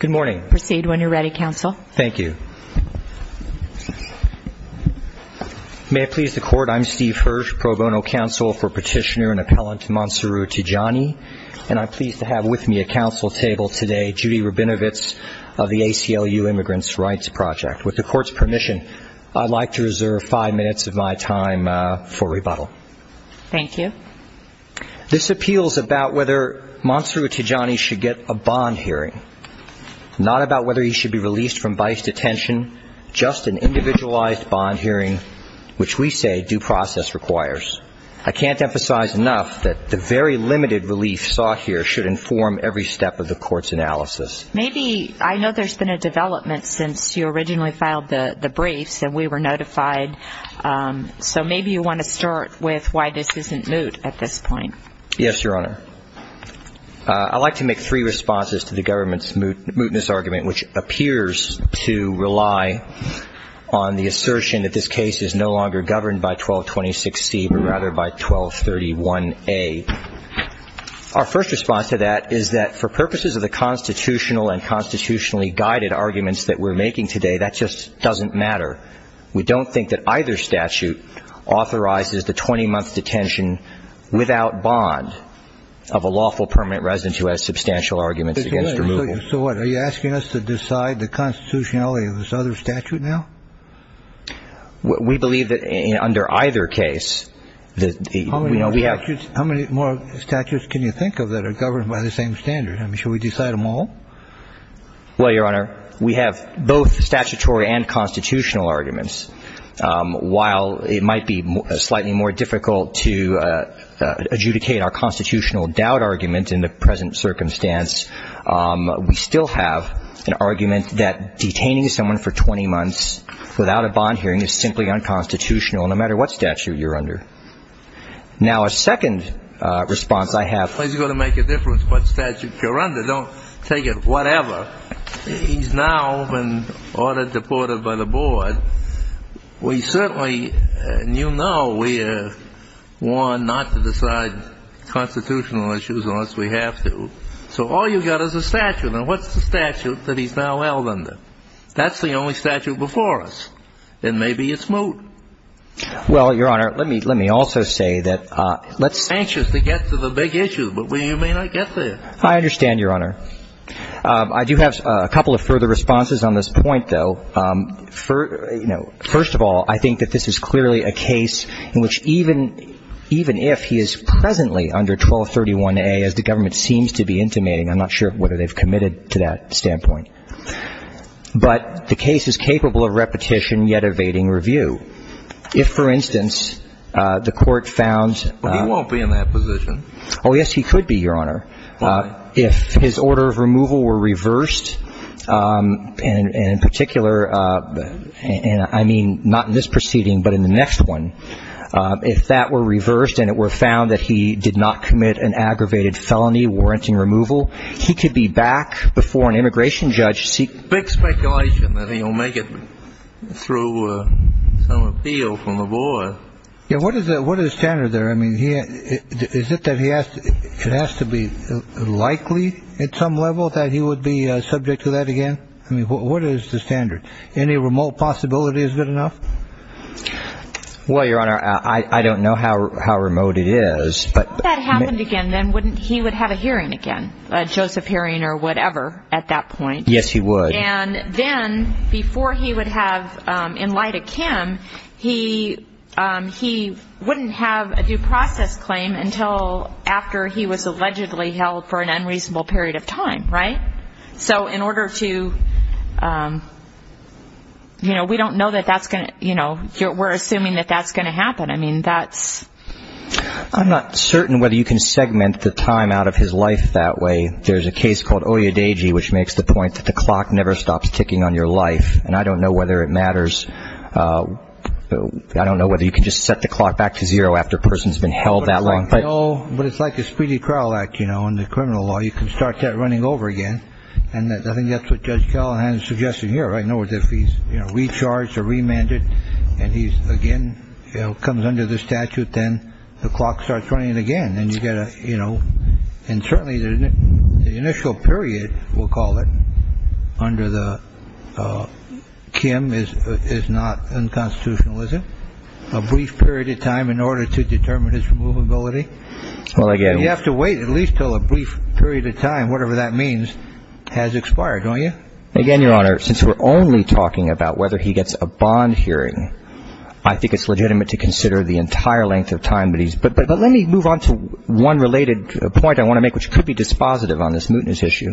Good morning. Proceed when you're ready, Counsel. Thank you. May it please the Court, I'm Steve Hirsch, Pro Bono Counsel for Petitioner and Appellant Mansuru Tijani, and I'm pleased to have with me at Council table today Judy Rabinovitz of the ACLU Immigrants' Rights Project. With the Court's permission, I'd like to reserve five minutes of my time for rebuttal. Thank you. This appeals about whether Mansuru Tijani should get a bond hearing, not about whether he should be released from vice detention, just an individualized bond hearing, which we say due process requires. I can't emphasize enough that the very limited relief sought here should inform every step of the Court's analysis. Maybe, I know there's been a development since you originally filed the briefs and we were notified, so maybe you want to start with why this isn't moot at this point. Yes, Your Honor. I'd like to make three responses to the government's mootness argument, which appears to rely on the assertion that this case is no longer governed by 1226C, but rather by 1231A. Our first response to that is that for purposes of the constitutional and constitutionally guided arguments that we're making today, that just doesn't matter. We don't think that either statute authorizes the 20-month detention without bond of a lawful permanent resident who has substantial arguments against removal. So what, are you asking us to decide the constitutionality of this other statute now? We believe that under either case, you know, we have – How many more statutes can you think of that are governed by the same standard? I mean, should we decide them all? Well, Your Honor, we have both statutory and constitutional arguments. While it might be slightly more difficult to adjudicate our constitutional doubt argument in the present circumstance, we still have an argument that detaining someone for 20 months without a bond hearing is simply unconstitutional, no matter what statute you're under. Now, a second response I have – Well, it's going to make a difference what statute you're under. Don't take it whatever. He's now been ordered deported by the board. We certainly – and you know we are warned not to decide constitutional issues unless we have to. So all you've got is a statute. Now, what's the statute that he's now held under? That's the only statute before us. Then maybe it's moot. Well, Your Honor, let me also say that let's – I understand, Your Honor. I do have a couple of further responses on this point, though. First of all, I think that this is clearly a case in which even if he is presently under 1231A, as the government seems to be intimating – I'm not sure whether they've committed to that standpoint – but the case is capable of repetition, yet evading review. If, for instance, the Court found – Well, he won't be in that position. Oh, yes, he could be, Your Honor. If his order of removal were reversed, and in particular – and I mean not in this proceeding but in the next one – if that were reversed and it were found that he did not commit an aggravated felony warranting removal, he could be back before an immigration judge to seek – Big speculation that he'll make it through some appeal from the board. Yeah, what is the standard there? I mean, is it that it has to be likely at some level that he would be subject to that again? I mean, what is the standard? Any remote possibility is good enough? Well, Your Honor, I don't know how remote it is, but – If that happened again, then he would have a hearing again, a Joseph hearing or whatever at that point. Yes, he would. And then before he would have, in light of Kim, he wouldn't have a due process claim until after he was allegedly held for an unreasonable period of time, right? So in order to – you know, we don't know that that's going to – you know, we're assuming that that's going to happen. I mean, that's – I'm not certain whether you can segment the time out of his life that way. There's a case called Oyadeji, which makes the point that the clock never stops ticking on your life. And I don't know whether it matters – I don't know whether you can just set the clock back to zero after a person's been held that long. But it's like a speedy trial act, you know, in the criminal law. You can start that running over again. And I think that's what Judge Callahan is suggesting here, right? In other words, if he's recharged or remanded and he again comes under the statute, then the clock starts running again. And you get a – you know, and certainly the initial period, we'll call it, under the – Kim is not unconstitutional, is it? A brief period of time in order to determine his removability? Well, again – You have to wait at least until a brief period of time, whatever that means, has expired, don't you? Again, Your Honor, since we're only talking about whether he gets a bond hearing, I think it's legitimate to consider the entire length of time that he's – But let me move on to one related point I want to make, which could be dispositive on this mootness issue,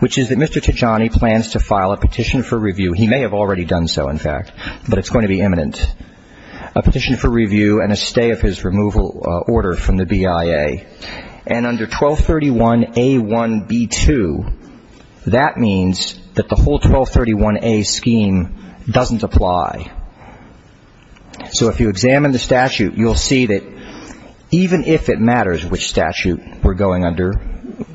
which is that Mr. Tajani plans to file a petition for review. He may have already done so, in fact, but it's going to be imminent. A petition for review and a stay of his removal order from the BIA. And under 1231A1B2, that means that the whole 1231A scheme doesn't apply. So if you examine the statute, you'll see that even if it matters which statute we're going under,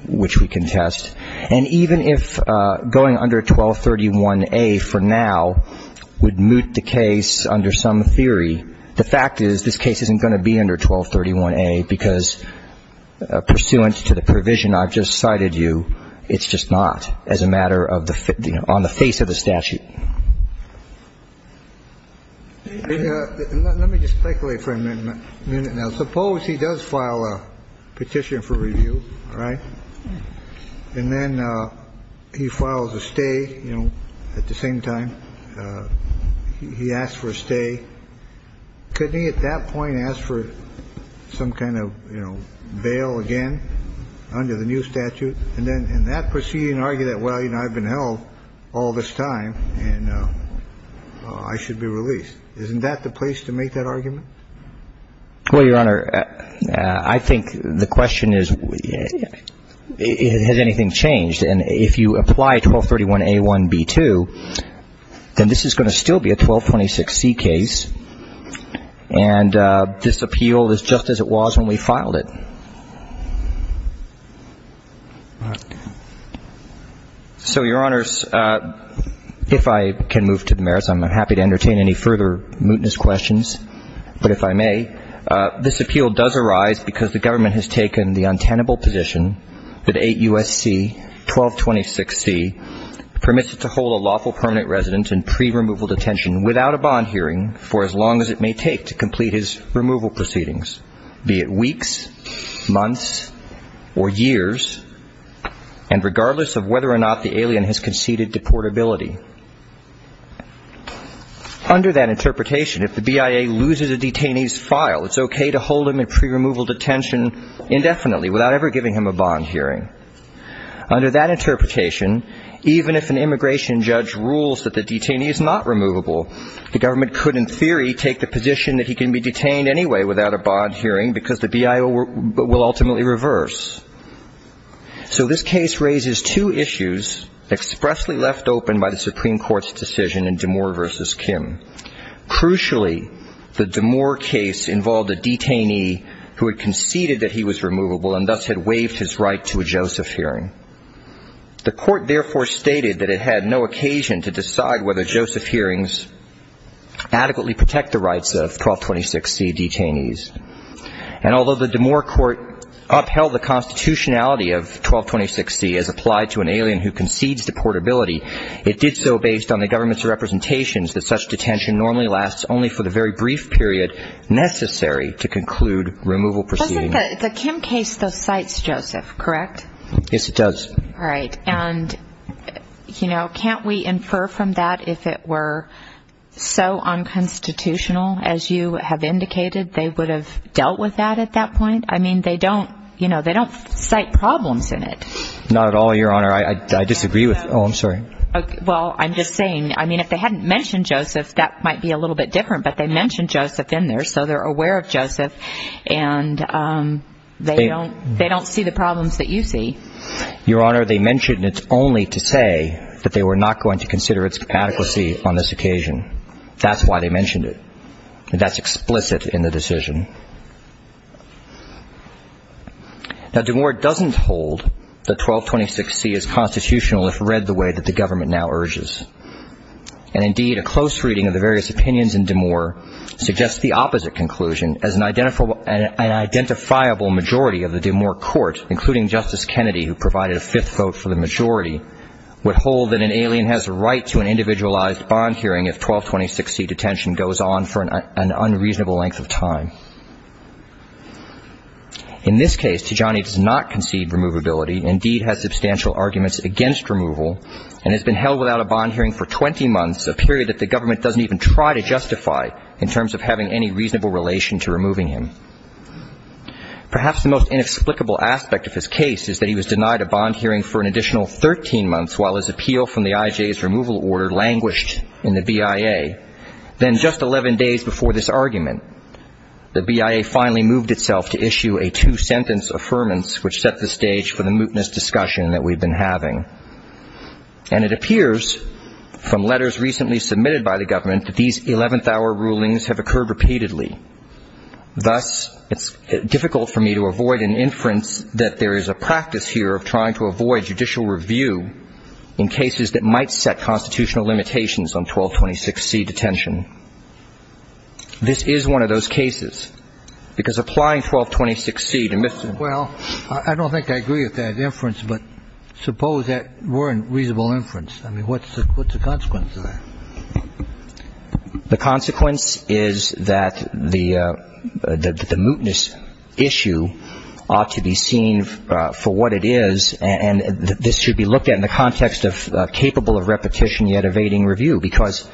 which we can test, and even if going under 1231A for now would moot the case under some theory, the fact is this case isn't going to be under 1231A because, pursuant to the provision I've just cited you, it's just not as a matter of the – on the face of the statute. Let me just speculate for a minute now. Suppose he does file a petition for review, all right, and then he files a stay, you know, at the same time. He asks for a stay. Couldn't he at that point ask for some kind of, you know, bail again under the new statute? And then in that proceeding argue that, well, you know, I've been held all this time and I should be released. Isn't that the place to make that argument? Well, Your Honor, I think the question is has anything changed? And if you apply 1231A1B2, then this is going to still be a 1226C case, and this appeal is just as it was when we filed it. So, Your Honors, if I can move to the merits, I'm happy to entertain any further mootness questions, but if I may, this appeal does arise because the government has taken the untenable position that 8 U.S.C. 1226C permits it to hold a lawful permanent resident in pre-removal detention without a bond hearing for as long as it may take to complete his removal proceedings, be it weeks, months, or years, and regardless of whether or not the alien has conceded deportability. Under that interpretation, if the BIA loses a detainee's file, it's okay to hold him in pre-removal detention indefinitely without ever giving him a bond hearing. Under that interpretation, even if an immigration judge rules that the detainee is not removable, the government could in theory take the position that he can be detained anyway without a bond hearing because the BIA will ultimately reverse. So this case raises two issues expressly left open by the Supreme Court's decision in DeMoor v. Kim. Crucially, the DeMoor case involved a detainee who had conceded that he was removable and thus had waived his right to a Joseph hearing. The court therefore stated that it had no occasion to decide whether Joseph hearings adequately protect the rights of 1226C detainees. And although the DeMoor court upheld the constitutionality of 1226C as applied to an alien who concedes deportability, it did so based on the government's representations that such detention normally lasts only for the very brief period necessary to conclude removal proceedings. The Kim case, though, cites Joseph, correct? Yes, it does. All right. And, you know, can't we infer from that if it were so unconstitutional as you have indicated they would have dealt with that at that point? I mean, they don't, you know, they don't cite problems in it. Not at all, Your Honor. I disagree with that. Oh, I'm sorry. Well, I'm just saying, I mean, if they hadn't mentioned Joseph, that might be a little bit different. But they mentioned Joseph in there, so they're aware of Joseph, and they don't see the problems that you see. Your Honor, they mentioned it only to say that they were not going to consider its adequacy on this occasion. That's why they mentioned it. That's explicit in the decision. Now, D'Amour doesn't hold that 1226C is constitutional if read the way that the government now urges. And, indeed, a close reading of the various opinions in D'Amour suggests the opposite conclusion, as an identifiable majority of the D'Amour court, including Justice Kennedy, who provided a fifth vote for the majority, would hold that an alien has a right to an individualized bond hearing if 1226C detention goes on for an unreasonable length of time. In this case, Tijani does not concede removability, indeed has substantial arguments against removal, and has been held without a bond hearing for 20 months, a period that the government doesn't even try to justify in terms of having any reasonable relation to removing him. Perhaps the most inexplicable aspect of his case is that he was denied a bond hearing for an additional 13 months while his appeal from the IJ's removal order languished in the BIA. Then, just 11 days before this argument, the BIA finally moved itself to issue a two-sentence affirmance, which set the stage for the mootness discussion that we've been having. And it appears from letters recently submitted by the government that these 11th-hour rulings have occurred repeatedly. Thus, it's difficult for me to avoid an inference that there is a practice here of trying to avoid judicial review in cases that might set constitutional limitations on 1226C detention. This is one of those cases, because applying 1226C to Mr. — Well, I don't think I agree with that inference, but suppose that were a reasonable inference. I mean, what's the consequence of that? The consequence is that the mootness issue ought to be seen for what it is, and this should be looked at in the context of capable of repetition yet evading review, because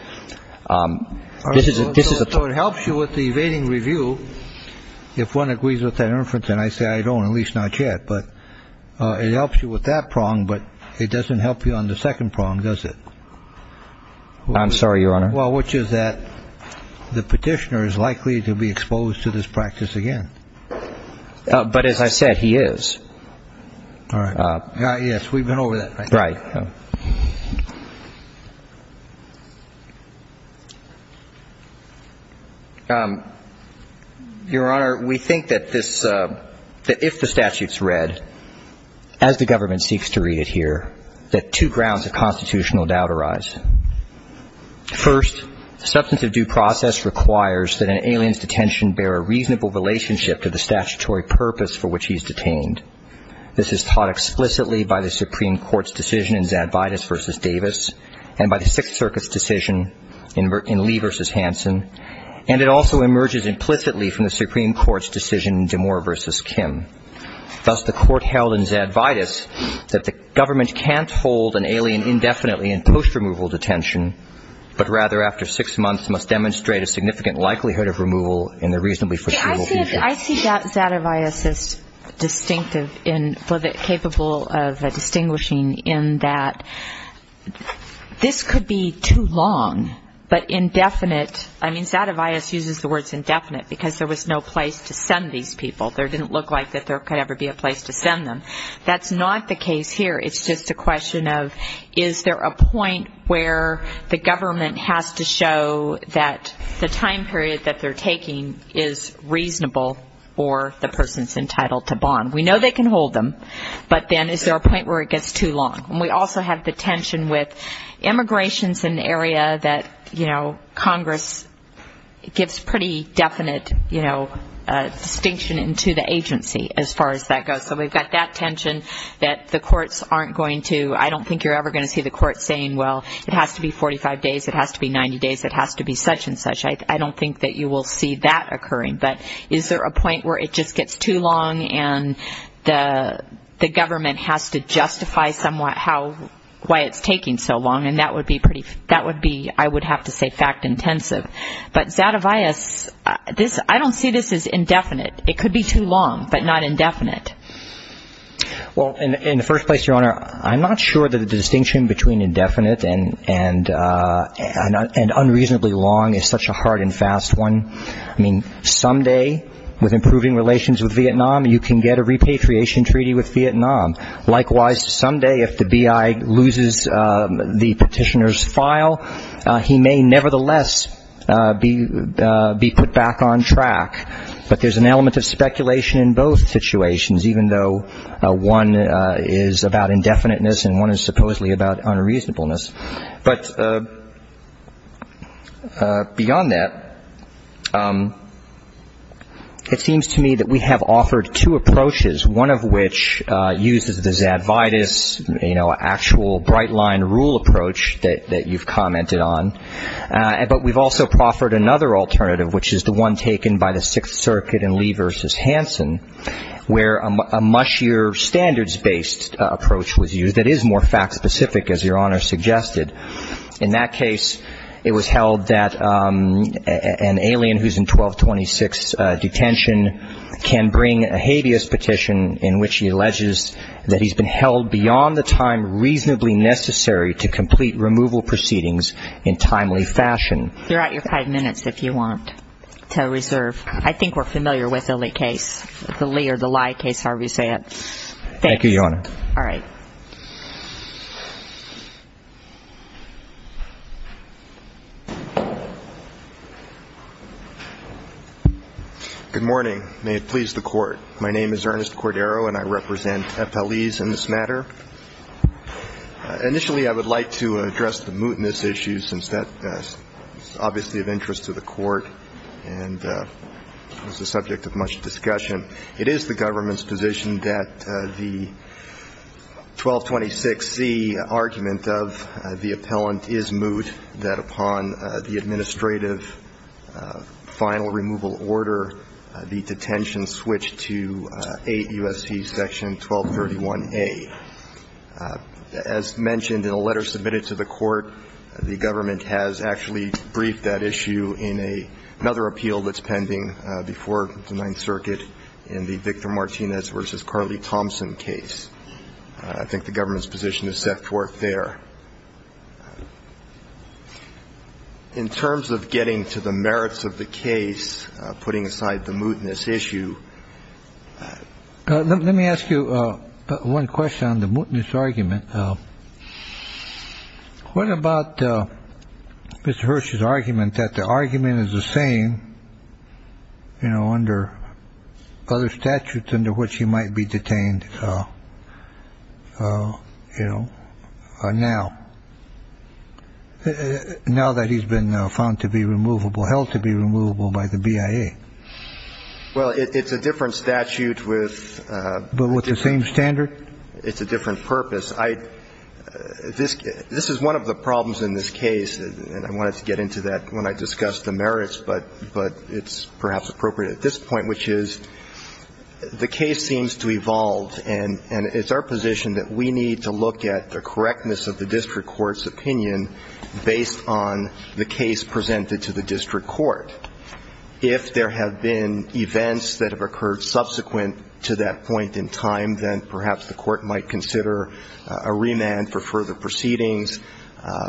this is — So it helps you with the evading review if one agrees with that inference, and I say I don't, at least not yet. But it helps you with that prong, but it doesn't help you on the second prong, does it? I'm sorry, Your Honor. Well, which is that the petitioner is likely to be exposed to this practice again. But as I said, he is. All right. Yes, we've been over that. Right. Your Honor, we think that this — that if the statute's read, as the government seeks to read it here, that two grounds of constitutional doubt arise. First, the substance of due process requires that an alien's detention bear a reasonable relationship to the statutory purpose for which he is detained. This is taught explicitly by the Supreme Court's decision in Zadvitas v. Davis and by the Sixth Circuit's decision in Lee v. Hansen, and it also emerges implicitly from the Supreme Court's decision in DeMoor v. Kim. Thus, the court held in Zadvitas that the government can't hold an alien indefinitely in post-removal detention, but rather after six months must demonstrate a significant likelihood of removal in the reasonably foreseeable future. I see Zadvitas as distinctive in — capable of distinguishing in that this could be too long, but indefinite. I mean, Zadvitas uses the words indefinite because there was no place to send these people. There didn't look like that there could ever be a place to send them. That's not the case here. It's just a question of is there a point where the government has to show that the time period that they're taking is reasonable or the person's entitled to bond. We know they can hold them, but then is there a point where it gets too long? And we also have the tension with immigrations in the area that, you know, Congress gives pretty definite, you know, distinction into the agency as far as that goes. So we've got that tension that the courts aren't going to — I don't think you're ever going to see the courts saying, well, it has to be 45 days, it has to be 90 days, it has to be such and such. I don't think that you will see that occurring. But is there a point where it just gets too long and the government has to justify somewhat how — why it's taking so long, and that would be pretty — that would be, I would have to say, fact-intensive. But Zadvitas, this — I don't see this as indefinite. It could be too long, but not indefinite. Well, in the first place, Your Honor, I'm not sure that the distinction between indefinite and unreasonably long is such a hard and fast one. I mean, someday, with improving relations with Vietnam, you can get a repatriation treaty with Vietnam. Likewise, someday, if the B.I. loses the petitioner's file, he may nevertheless be put back on track. But there's an element of speculation in both situations, even though one is about indefiniteness and one is supposedly about unreasonableness. But beyond that, it seems to me that we have offered two approaches, one of which uses the Zadvitas, you know, actual bright-line rule approach that you've commented on. But we've also offered another alternative, which is the one taken by the Sixth Circuit in Lee v. Hansen, where a mushier standards-based approach was used that is more fact-specific, as Your Honor suggested. In that case, it was held that an alien who's in 1226 detention can bring a habeas petition in which he alleges that he's been held beyond the time reasonably necessary to complete removal proceedings in timely fashion. You're at your five minutes if you want to reserve. I think we're familiar with the Lee case, the Lee or the Lye case, however you say it. Thank you, Your Honor. All right. Good morning. May it please the Court. My name is Ernest Cordero, and I represent FLEs in this matter. Initially, I would like to address the mootness issue, since that is obviously of interest to the Court and is the subject of much discussion. It is the government's position that the 1226c argument of the appellant is moot, that upon the administrative final removal order, the detention switch to 8 U.S.C. Section 1231A. As mentioned in a letter submitted to the Court, the government has actually briefed that issue in another appeal that's pending before the Ninth Circuit in the Victor Martinez v. Carly Thompson case. I think the government's position is set forth there. In terms of getting to the merits of the case, putting aside the mootness issue, let me ask you one question on the mootness argument. What about Mr. Hirsch's argument that the argument is the same, you know, under other statutes under which he might be detained, you know, now, now that he's been found to be removable, held to be removable by the BIA? Well, it's a different statute with the same standard. It's a different purpose. This is one of the problems in this case, and I wanted to get into that when I discussed the merits, but it's perhaps appropriate at this point, which is the case seems to evolve, and it's our position that we need to look at the correctness of the district court's opinion based on the case presented to the district court. If there have been events that have occurred subsequent to that point in time, then perhaps the court might consider a remand for further proceedings.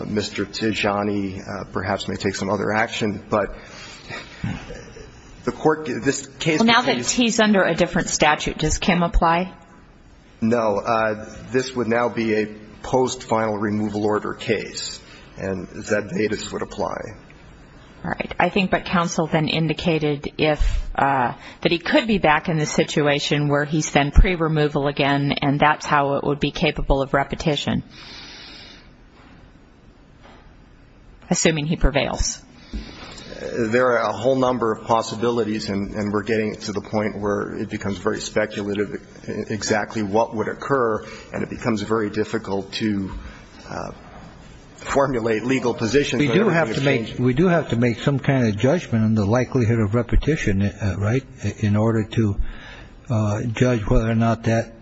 Mr. Tijani perhaps may take some other action. But the court, this case would be. Well, now that he's under a different statute, does Kim apply? No. This would now be a post-final removal order case, and that would apply. All right. I think what counsel then indicated, that he could be back in the situation where he's then pre-removal again, and that's how it would be capable of repetition, assuming he prevails. There are a whole number of possibilities, and we're getting to the point where it becomes very speculative exactly what would occur, and it becomes very difficult to formulate legal positions. We do have to make some kind of judgment on the likelihood of repetition, right, in order to judge whether or not that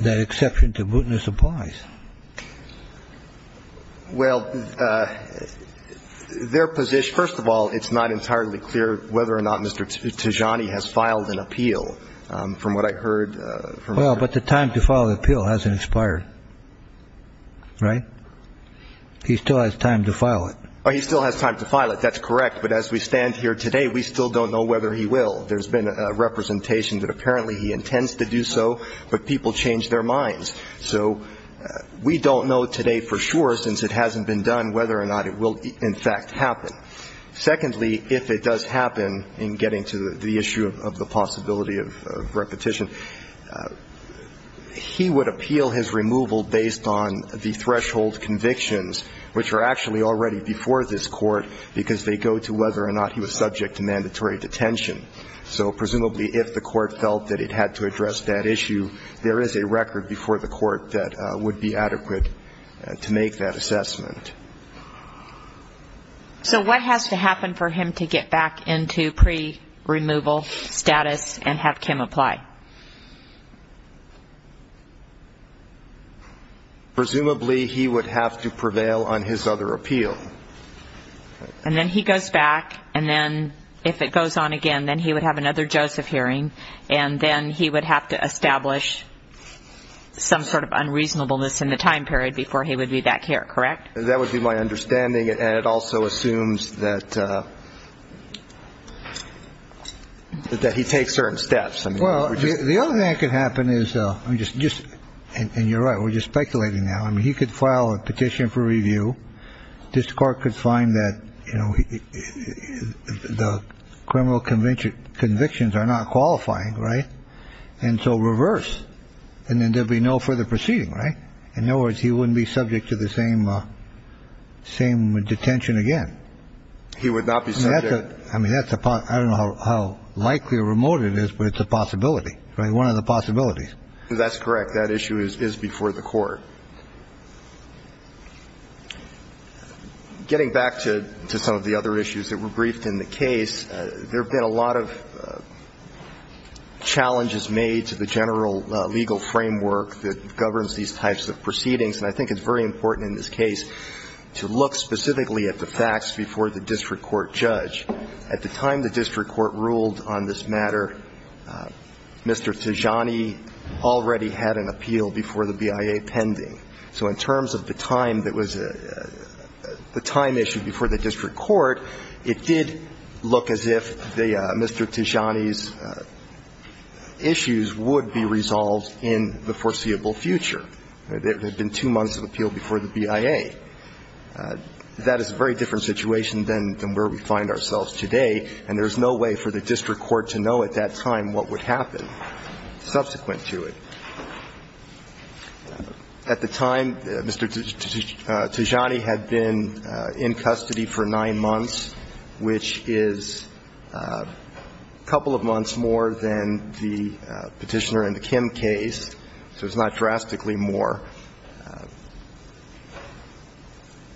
exception to mootness applies. Well, their position, first of all, it's not entirely clear whether or not Mr. Tijani has filed an appeal. From what I heard. Well, but the time to file an appeal hasn't expired. Right? He still has time to file it. He still has time to file it. That's correct. But as we stand here today, we still don't know whether he will. There's been a representation that apparently he intends to do so, but people change their minds. So we don't know today for sure, since it hasn't been done, whether or not it will, in fact, happen. Secondly, if it does happen, in getting to the issue of the possibility of repetition, he would appeal his removal based on the threshold convictions, which are actually already before this court, because they go to whether or not he was subject to mandatory detention. So presumably if the court felt that it had to address that issue, there is a record before the court that would be adequate to make that assessment. So what has to happen for him to get back into pre-removal status and have Kim apply? Presumably he would have to prevail on his other appeal. And then he goes back, and then if it goes on again, then he would have another Joseph hearing, and then he would have to establish some sort of unreasonableness in the time period before he would be back here, correct? That would be my understanding. And it also assumes that he takes certain steps. Well, the other thing that could happen is just and you're right, we're just speculating now. I mean, he could file a petition for review. This court could find that, you know, the criminal conviction convictions are not qualifying. Right. And so reverse. And then there'll be no further proceeding. Right. In other words, he wouldn't be subject to the same same detention again. He would not be. I mean, that's a I don't know how likely or remote it is, but it's a possibility. Right. One of the possibilities. That's correct. That issue is before the court. Getting back to some of the other issues that were briefed in the case, there have been a lot of challenges made to the general legal framework that governs these types of proceedings. And I think it's very important in this case to look specifically at the facts before the district court judge. At the time the district court ruled on this matter, Mr. Tijani already had an appeal before the BIA pending. So in terms of the time that was the time issue before the district court, it did look as if Mr. Tijani's issues would be resolved in the foreseeable future. There had been two months of appeal before the BIA. That is a very different situation than where we find ourselves today. And there's no way for the district court to know at that time what would happen subsequent to it. At the time, Mr. Tijani had been in custody for nine months, which is a couple of months more than the Petitioner and the Kim case, so it's not drastically more.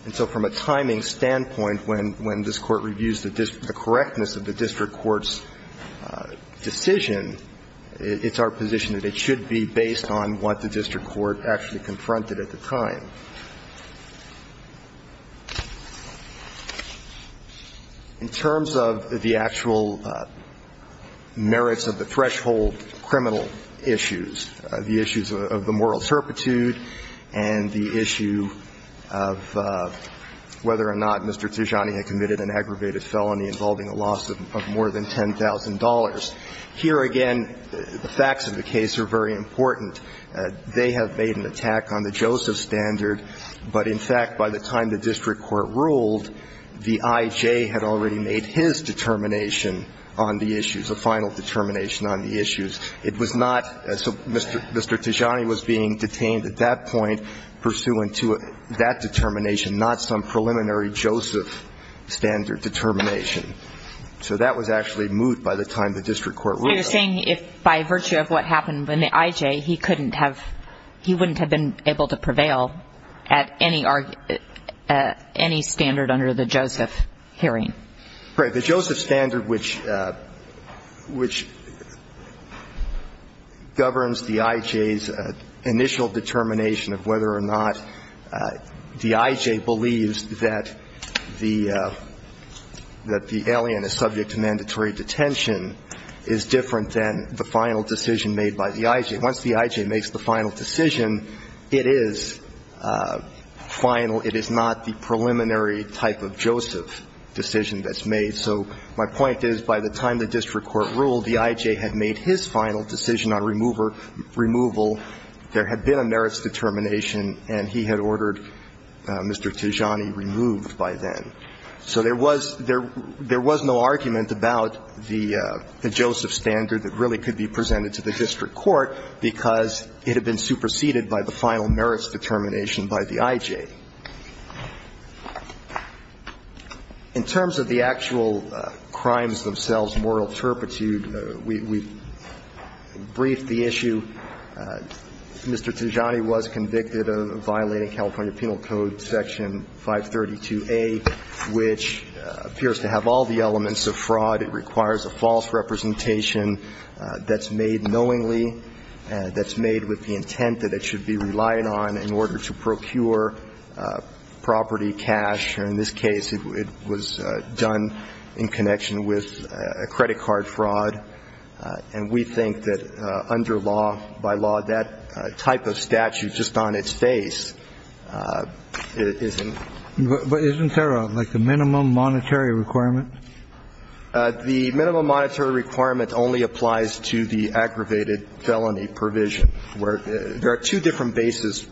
And so from a timing standpoint, when this Court reviews the correctness of the district court's decision, it's our position that it should be based on what the district court actually confronted at the time. In terms of the actual merits of the threshold criminal issues, the issues of the moral turpitude and the issue of whether or not Mr. Tijani had committed an aggravated felony involving a loss of more than $10,000, here again, the facts of the case are very important. They have made an attack on the Joseph standard. But, in fact, by the time the district court ruled, the I.J. had already made his determination on the issues, a final determination on the issues. It was not Mr. Tijani was being detained at that point pursuant to that determination, not some preliminary Joseph standard determination. So that was actually moved by the time the district court ruled on it. So you're saying if by virtue of what happened in the I.J., he couldn't have, he wouldn't have been able to prevail at any standard under the Joseph hearing? Right. The Joseph standard, which governs the I.J.'s initial determination of whether or not the I.J. believes that the, that the defendant had committed the alien is subject to mandatory detention, is different than the final decision made by the I.J. Once the I.J. makes the final decision, it is final. It is not the preliminary type of Joseph decision that's made. So my point is, by the time the district court ruled, the I.J. had made his final decision on remover, removal. There had been a merits determination, and he had ordered Mr. Tijani removed by then. So there was, there was no argument about the Joseph standard that really could be presented to the district court, because it had been superseded by the final merits determination by the I.J. In terms of the actual crimes themselves, moral turpitude, we've briefed the issue. Mr. Tijani was convicted of violating California Penal Code Section 532A. This, this statute, which appears to have all the elements of fraud, it requires a false representation that's made knowingly, that's made with the intent that it should be relied on in order to procure property, cash. In this case, it was done in connection with a credit card fraud. And we think that under law, by law, that type of statute just on its face isn't But isn't there like a minimum monetary requirement? The minimum monetary requirement only applies to the aggravated felony provision, where there are two different bases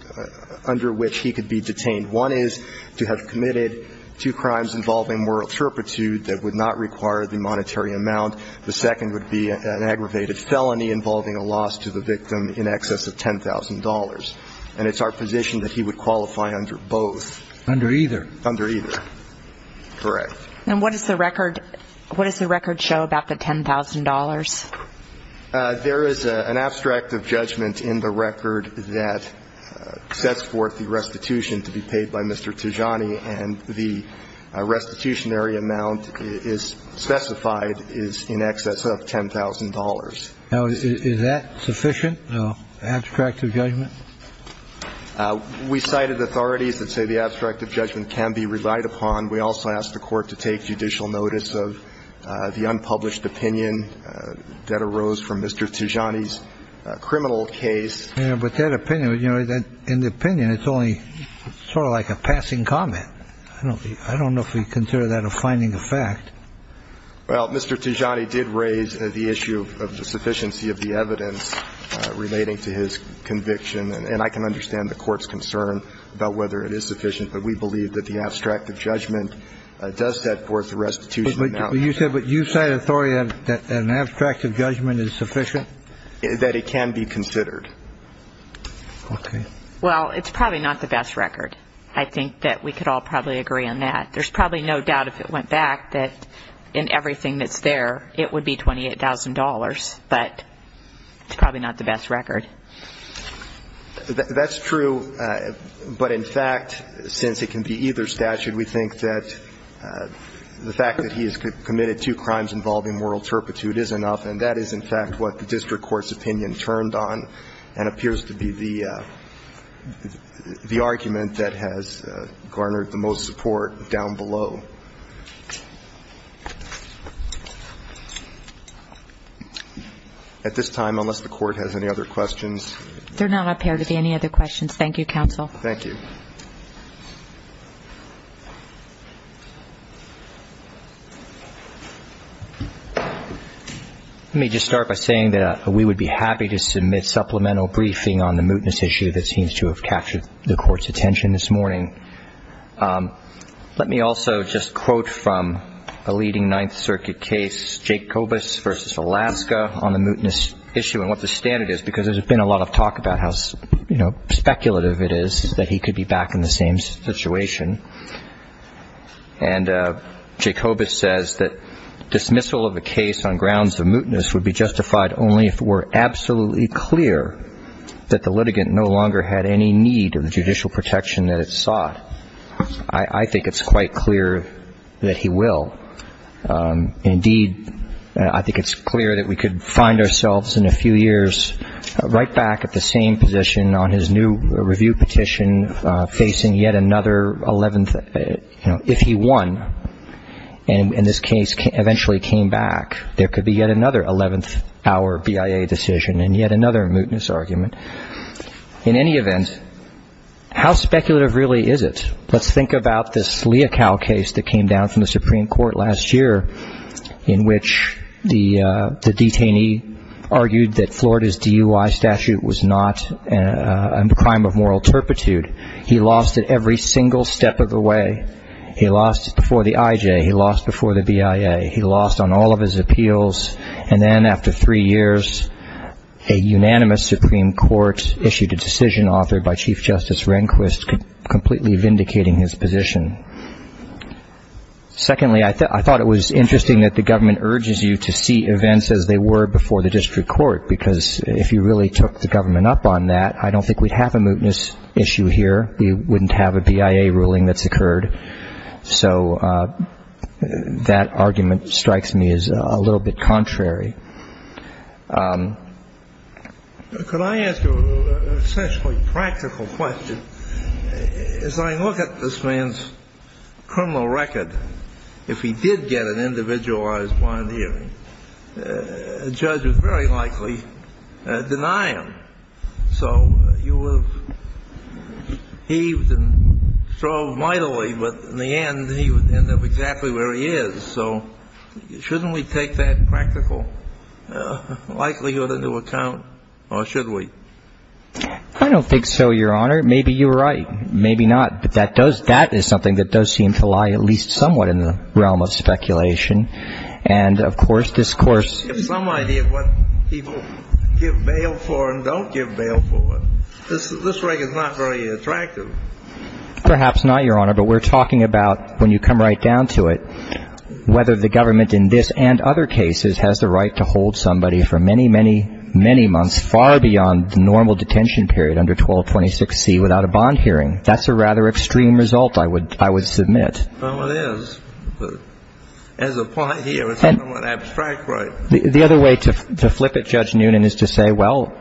under which he could be detained. One is to have committed two crimes involving moral turpitude that would not require the monetary amount. The second would be an aggravated felony involving a loss to the victim in excess of $10,000. And it's our position that he would qualify under both. Under either. Under either. Correct. And what does the record, what does the record show about the $10,000? There is an abstract of judgment in the record that sets forth the restitution to be paid by Mr. Tijani. And the restitutionary amount is specified is in excess of $10,000. Now, is that sufficient, the abstract of judgment? We cited authorities that say the abstract of judgment can be relied upon. We also asked the court to take judicial notice of the unpublished opinion that arose from Mr. Tijani's criminal case. But that opinion, you know, in the opinion, it's only sort of like a passing comment. I don't know if we consider that a finding of fact. Well, Mr. Tijani did raise the issue of the sufficiency of the evidence relating to his conviction. And I can understand the court's concern about whether it is sufficient. But we believe that the abstract of judgment does set forth the restitution. But you said you cited authority that an abstract of judgment is sufficient? That it can be considered. Okay. Well, it's probably not the best record. I think that we could all probably agree on that. There's probably no doubt if it went back that in everything that's there, it would be $28,000. But it's probably not the best record. That's true. But, in fact, since it can be either statute, we think that the fact that he has committed two crimes involving moral turpitude is enough. And that is, in fact, what the district court's opinion turned on and appears to be the argument that has garnered the most support down below. At this time, unless the court has any other questions. There do not appear to be any other questions. Thank you, counsel. Thank you. Let me just start by saying that we would be happy to submit supplemental briefing on the mootness issue that seems to have captured the court's attention this morning. Let me also just quote from a leading Ninth Circuit case, Jacobus v. Alaska, on the mootness issue and what the standard is because there's been a lot of talk about how speculative it is that he could be back in the same situation. And Jacobus says that dismissal of a case on grounds of mootness would be justified only if it were absolutely clear that the litigant no longer had any need of the judicial protection that it sought. I think it's quite clear that he will. Indeed, I think it's clear that we could find ourselves in a few years right back at the same position on his new review petition facing yet another 11th. If he won and this case eventually came back, there could be yet another 11th hour BIA decision and yet another mootness argument. In any event, how speculative really is it? Let's think about this Leocal case that came down from the Supreme Court last year in which the detainee argued that Florida's DUI statute was not a crime of moral turpitude. He lost it every single step of the way. He lost it before the IJ. He lost before the BIA. He lost on all of his appeals. And then after three years, a unanimous Supreme Court issued a decision authored by Chief Justice Rehnquist, completely vindicating his position. Secondly, I thought it was interesting that the government urges you to see events as they were before the district court because if you really took the government up on that, I don't think we'd have a mootness issue here. We wouldn't have a BIA ruling that's occurred. So that argument strikes me as a little bit contrary. Could I ask you an essentially practical question? As I look at this man's criminal record, if he did get an individualized bond hearing, a judge would very likely deny him. So you would have heaved and strove mightily, but in the end, he would end up exactly where he is. So shouldn't we take that practical likelihood into account, or should we? I don't think so, Your Honor. Maybe you're right. Maybe not. But that is something that does seem to lie at least somewhat in the realm of speculation. And, of course, this course — Give some idea of what people give bail for and don't give bail for. This record's not very attractive. Perhaps not, Your Honor. But we're talking about, when you come right down to it, whether the government in this and other cases has the right to hold somebody for many, many, many months, far beyond the normal detention period under 1226C without a bond hearing. That's a rather extreme result, I would submit. Well, it is. But as a point here, it's somewhat abstract, right? The other way to flip it, Judge Noonan, is to say, well,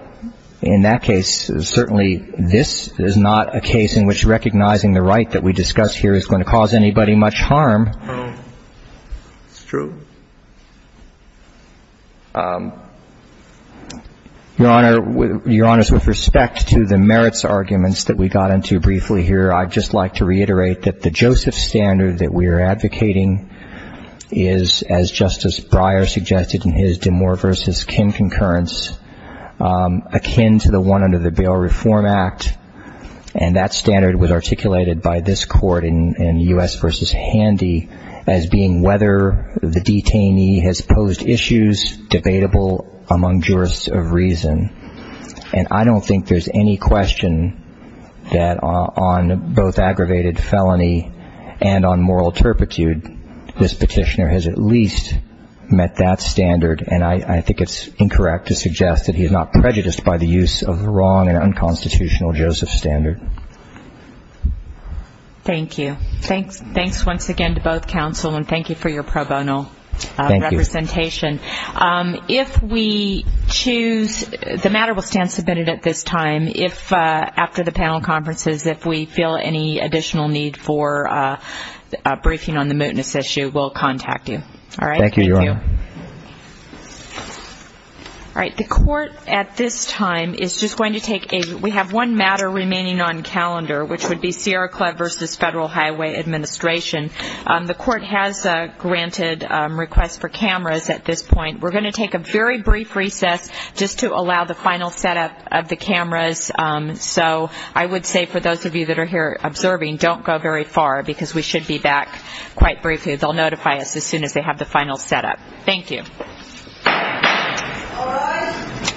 in that case, certainly this is not a case in which recognizing the right that we discuss here is going to cause anybody much harm. No. It's true. Your Honor, Your Honor, with respect to the merits arguments that we got into briefly here, I'd just like to reiterate that the Joseph standard that we are advocating is, as Justice Breyer suggested in his DeMoor v. Kim concurrence, akin to the one under the Bail Reform Act, and that standard was articulated by this Court in U.S. v. Handy as being whether the detainee has posed issues debatable among jurists of reason. And I don't think there's any question that on both aggravated felony and on moral turpitude, this petitioner has at least met that standard, and I think it's incorrect to suggest that he is not prejudiced by the use of the wrong and unconstitutional Joseph standard. Thank you. Thanks once again to both counsel, and thank you for your pro bono representation. Thank you. If we choose, the matter will stand submitted at this time. After the panel conferences, if we feel any additional need for briefing on the mootness issue, we'll contact you. All right? Thank you, Your Honor. Thank you. All right, the Court at this time is just going to take a we have one matter remaining on calendar, which would be Sierra Club v. Federal Highway Administration. The Court has granted requests for cameras at this point. We're going to take a very brief recess just to allow the final setup of the cameras. So I would say for those of you that are here observing, don't go very far, because we should be back quite briefly. They'll notify us as soon as they have the final setup. Thank you. All rise. This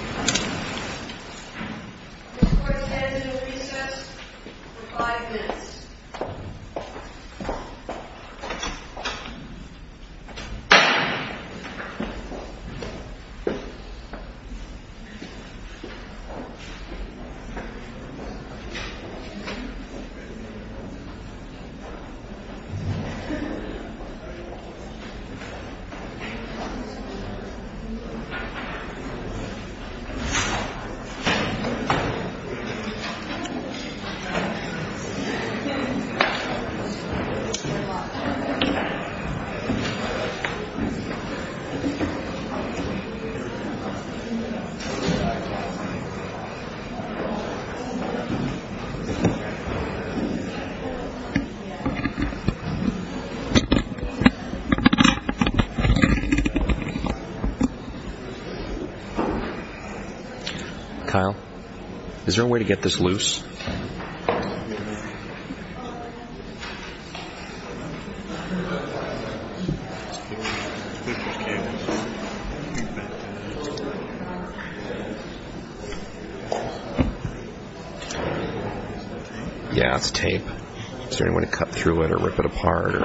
Court stands in recess for five minutes. Thank you. Kyle, is there a way to get this loose? Yeah, it's tape. Is there any way to cut through it or rip it apart?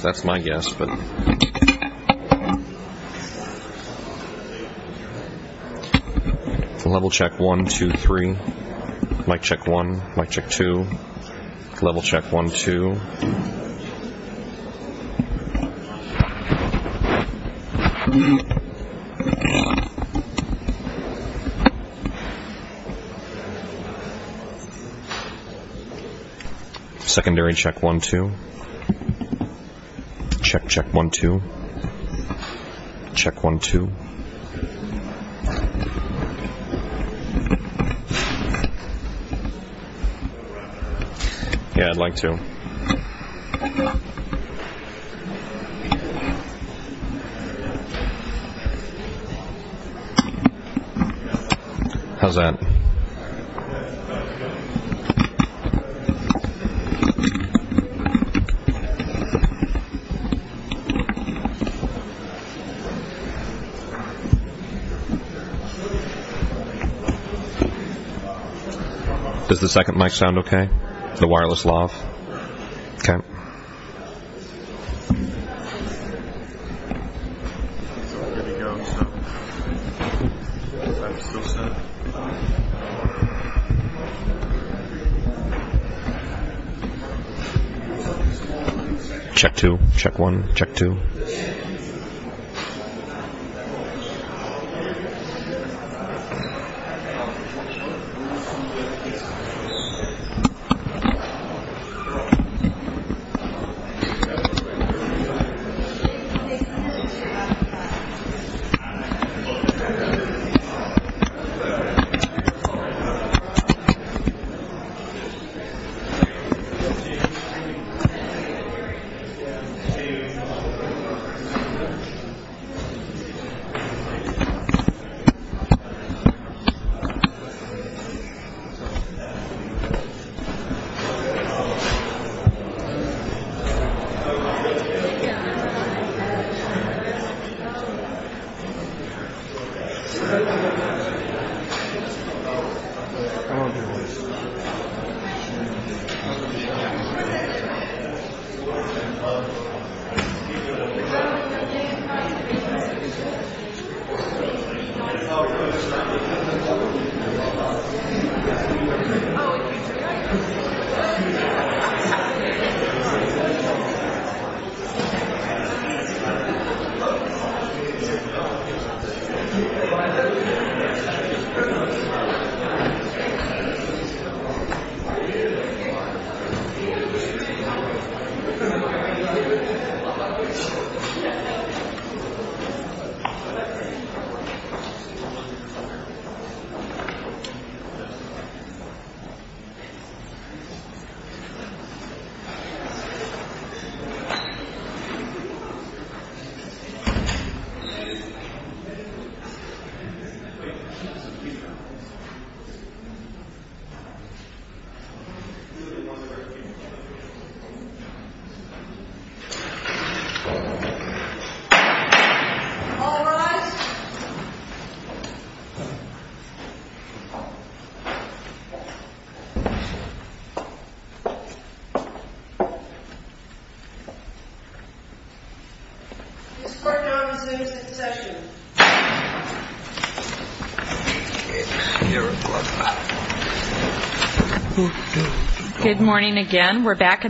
That's my guess. Level check, one, two, three. Mic check, one. Mic check, two. Level check, one, two. Secondary check, one, two. Check, check, one, two. Check, one, two. Yeah, I'd like to. How's that? Does the second mic sound okay? The wireless lav? Okay. Check, two. Check, one. Check, check, one, two. Check, check, one, two. Check, check, one, two. Check, check, one, two. All rise. This Court now resumes its session. Good morning again. We're back.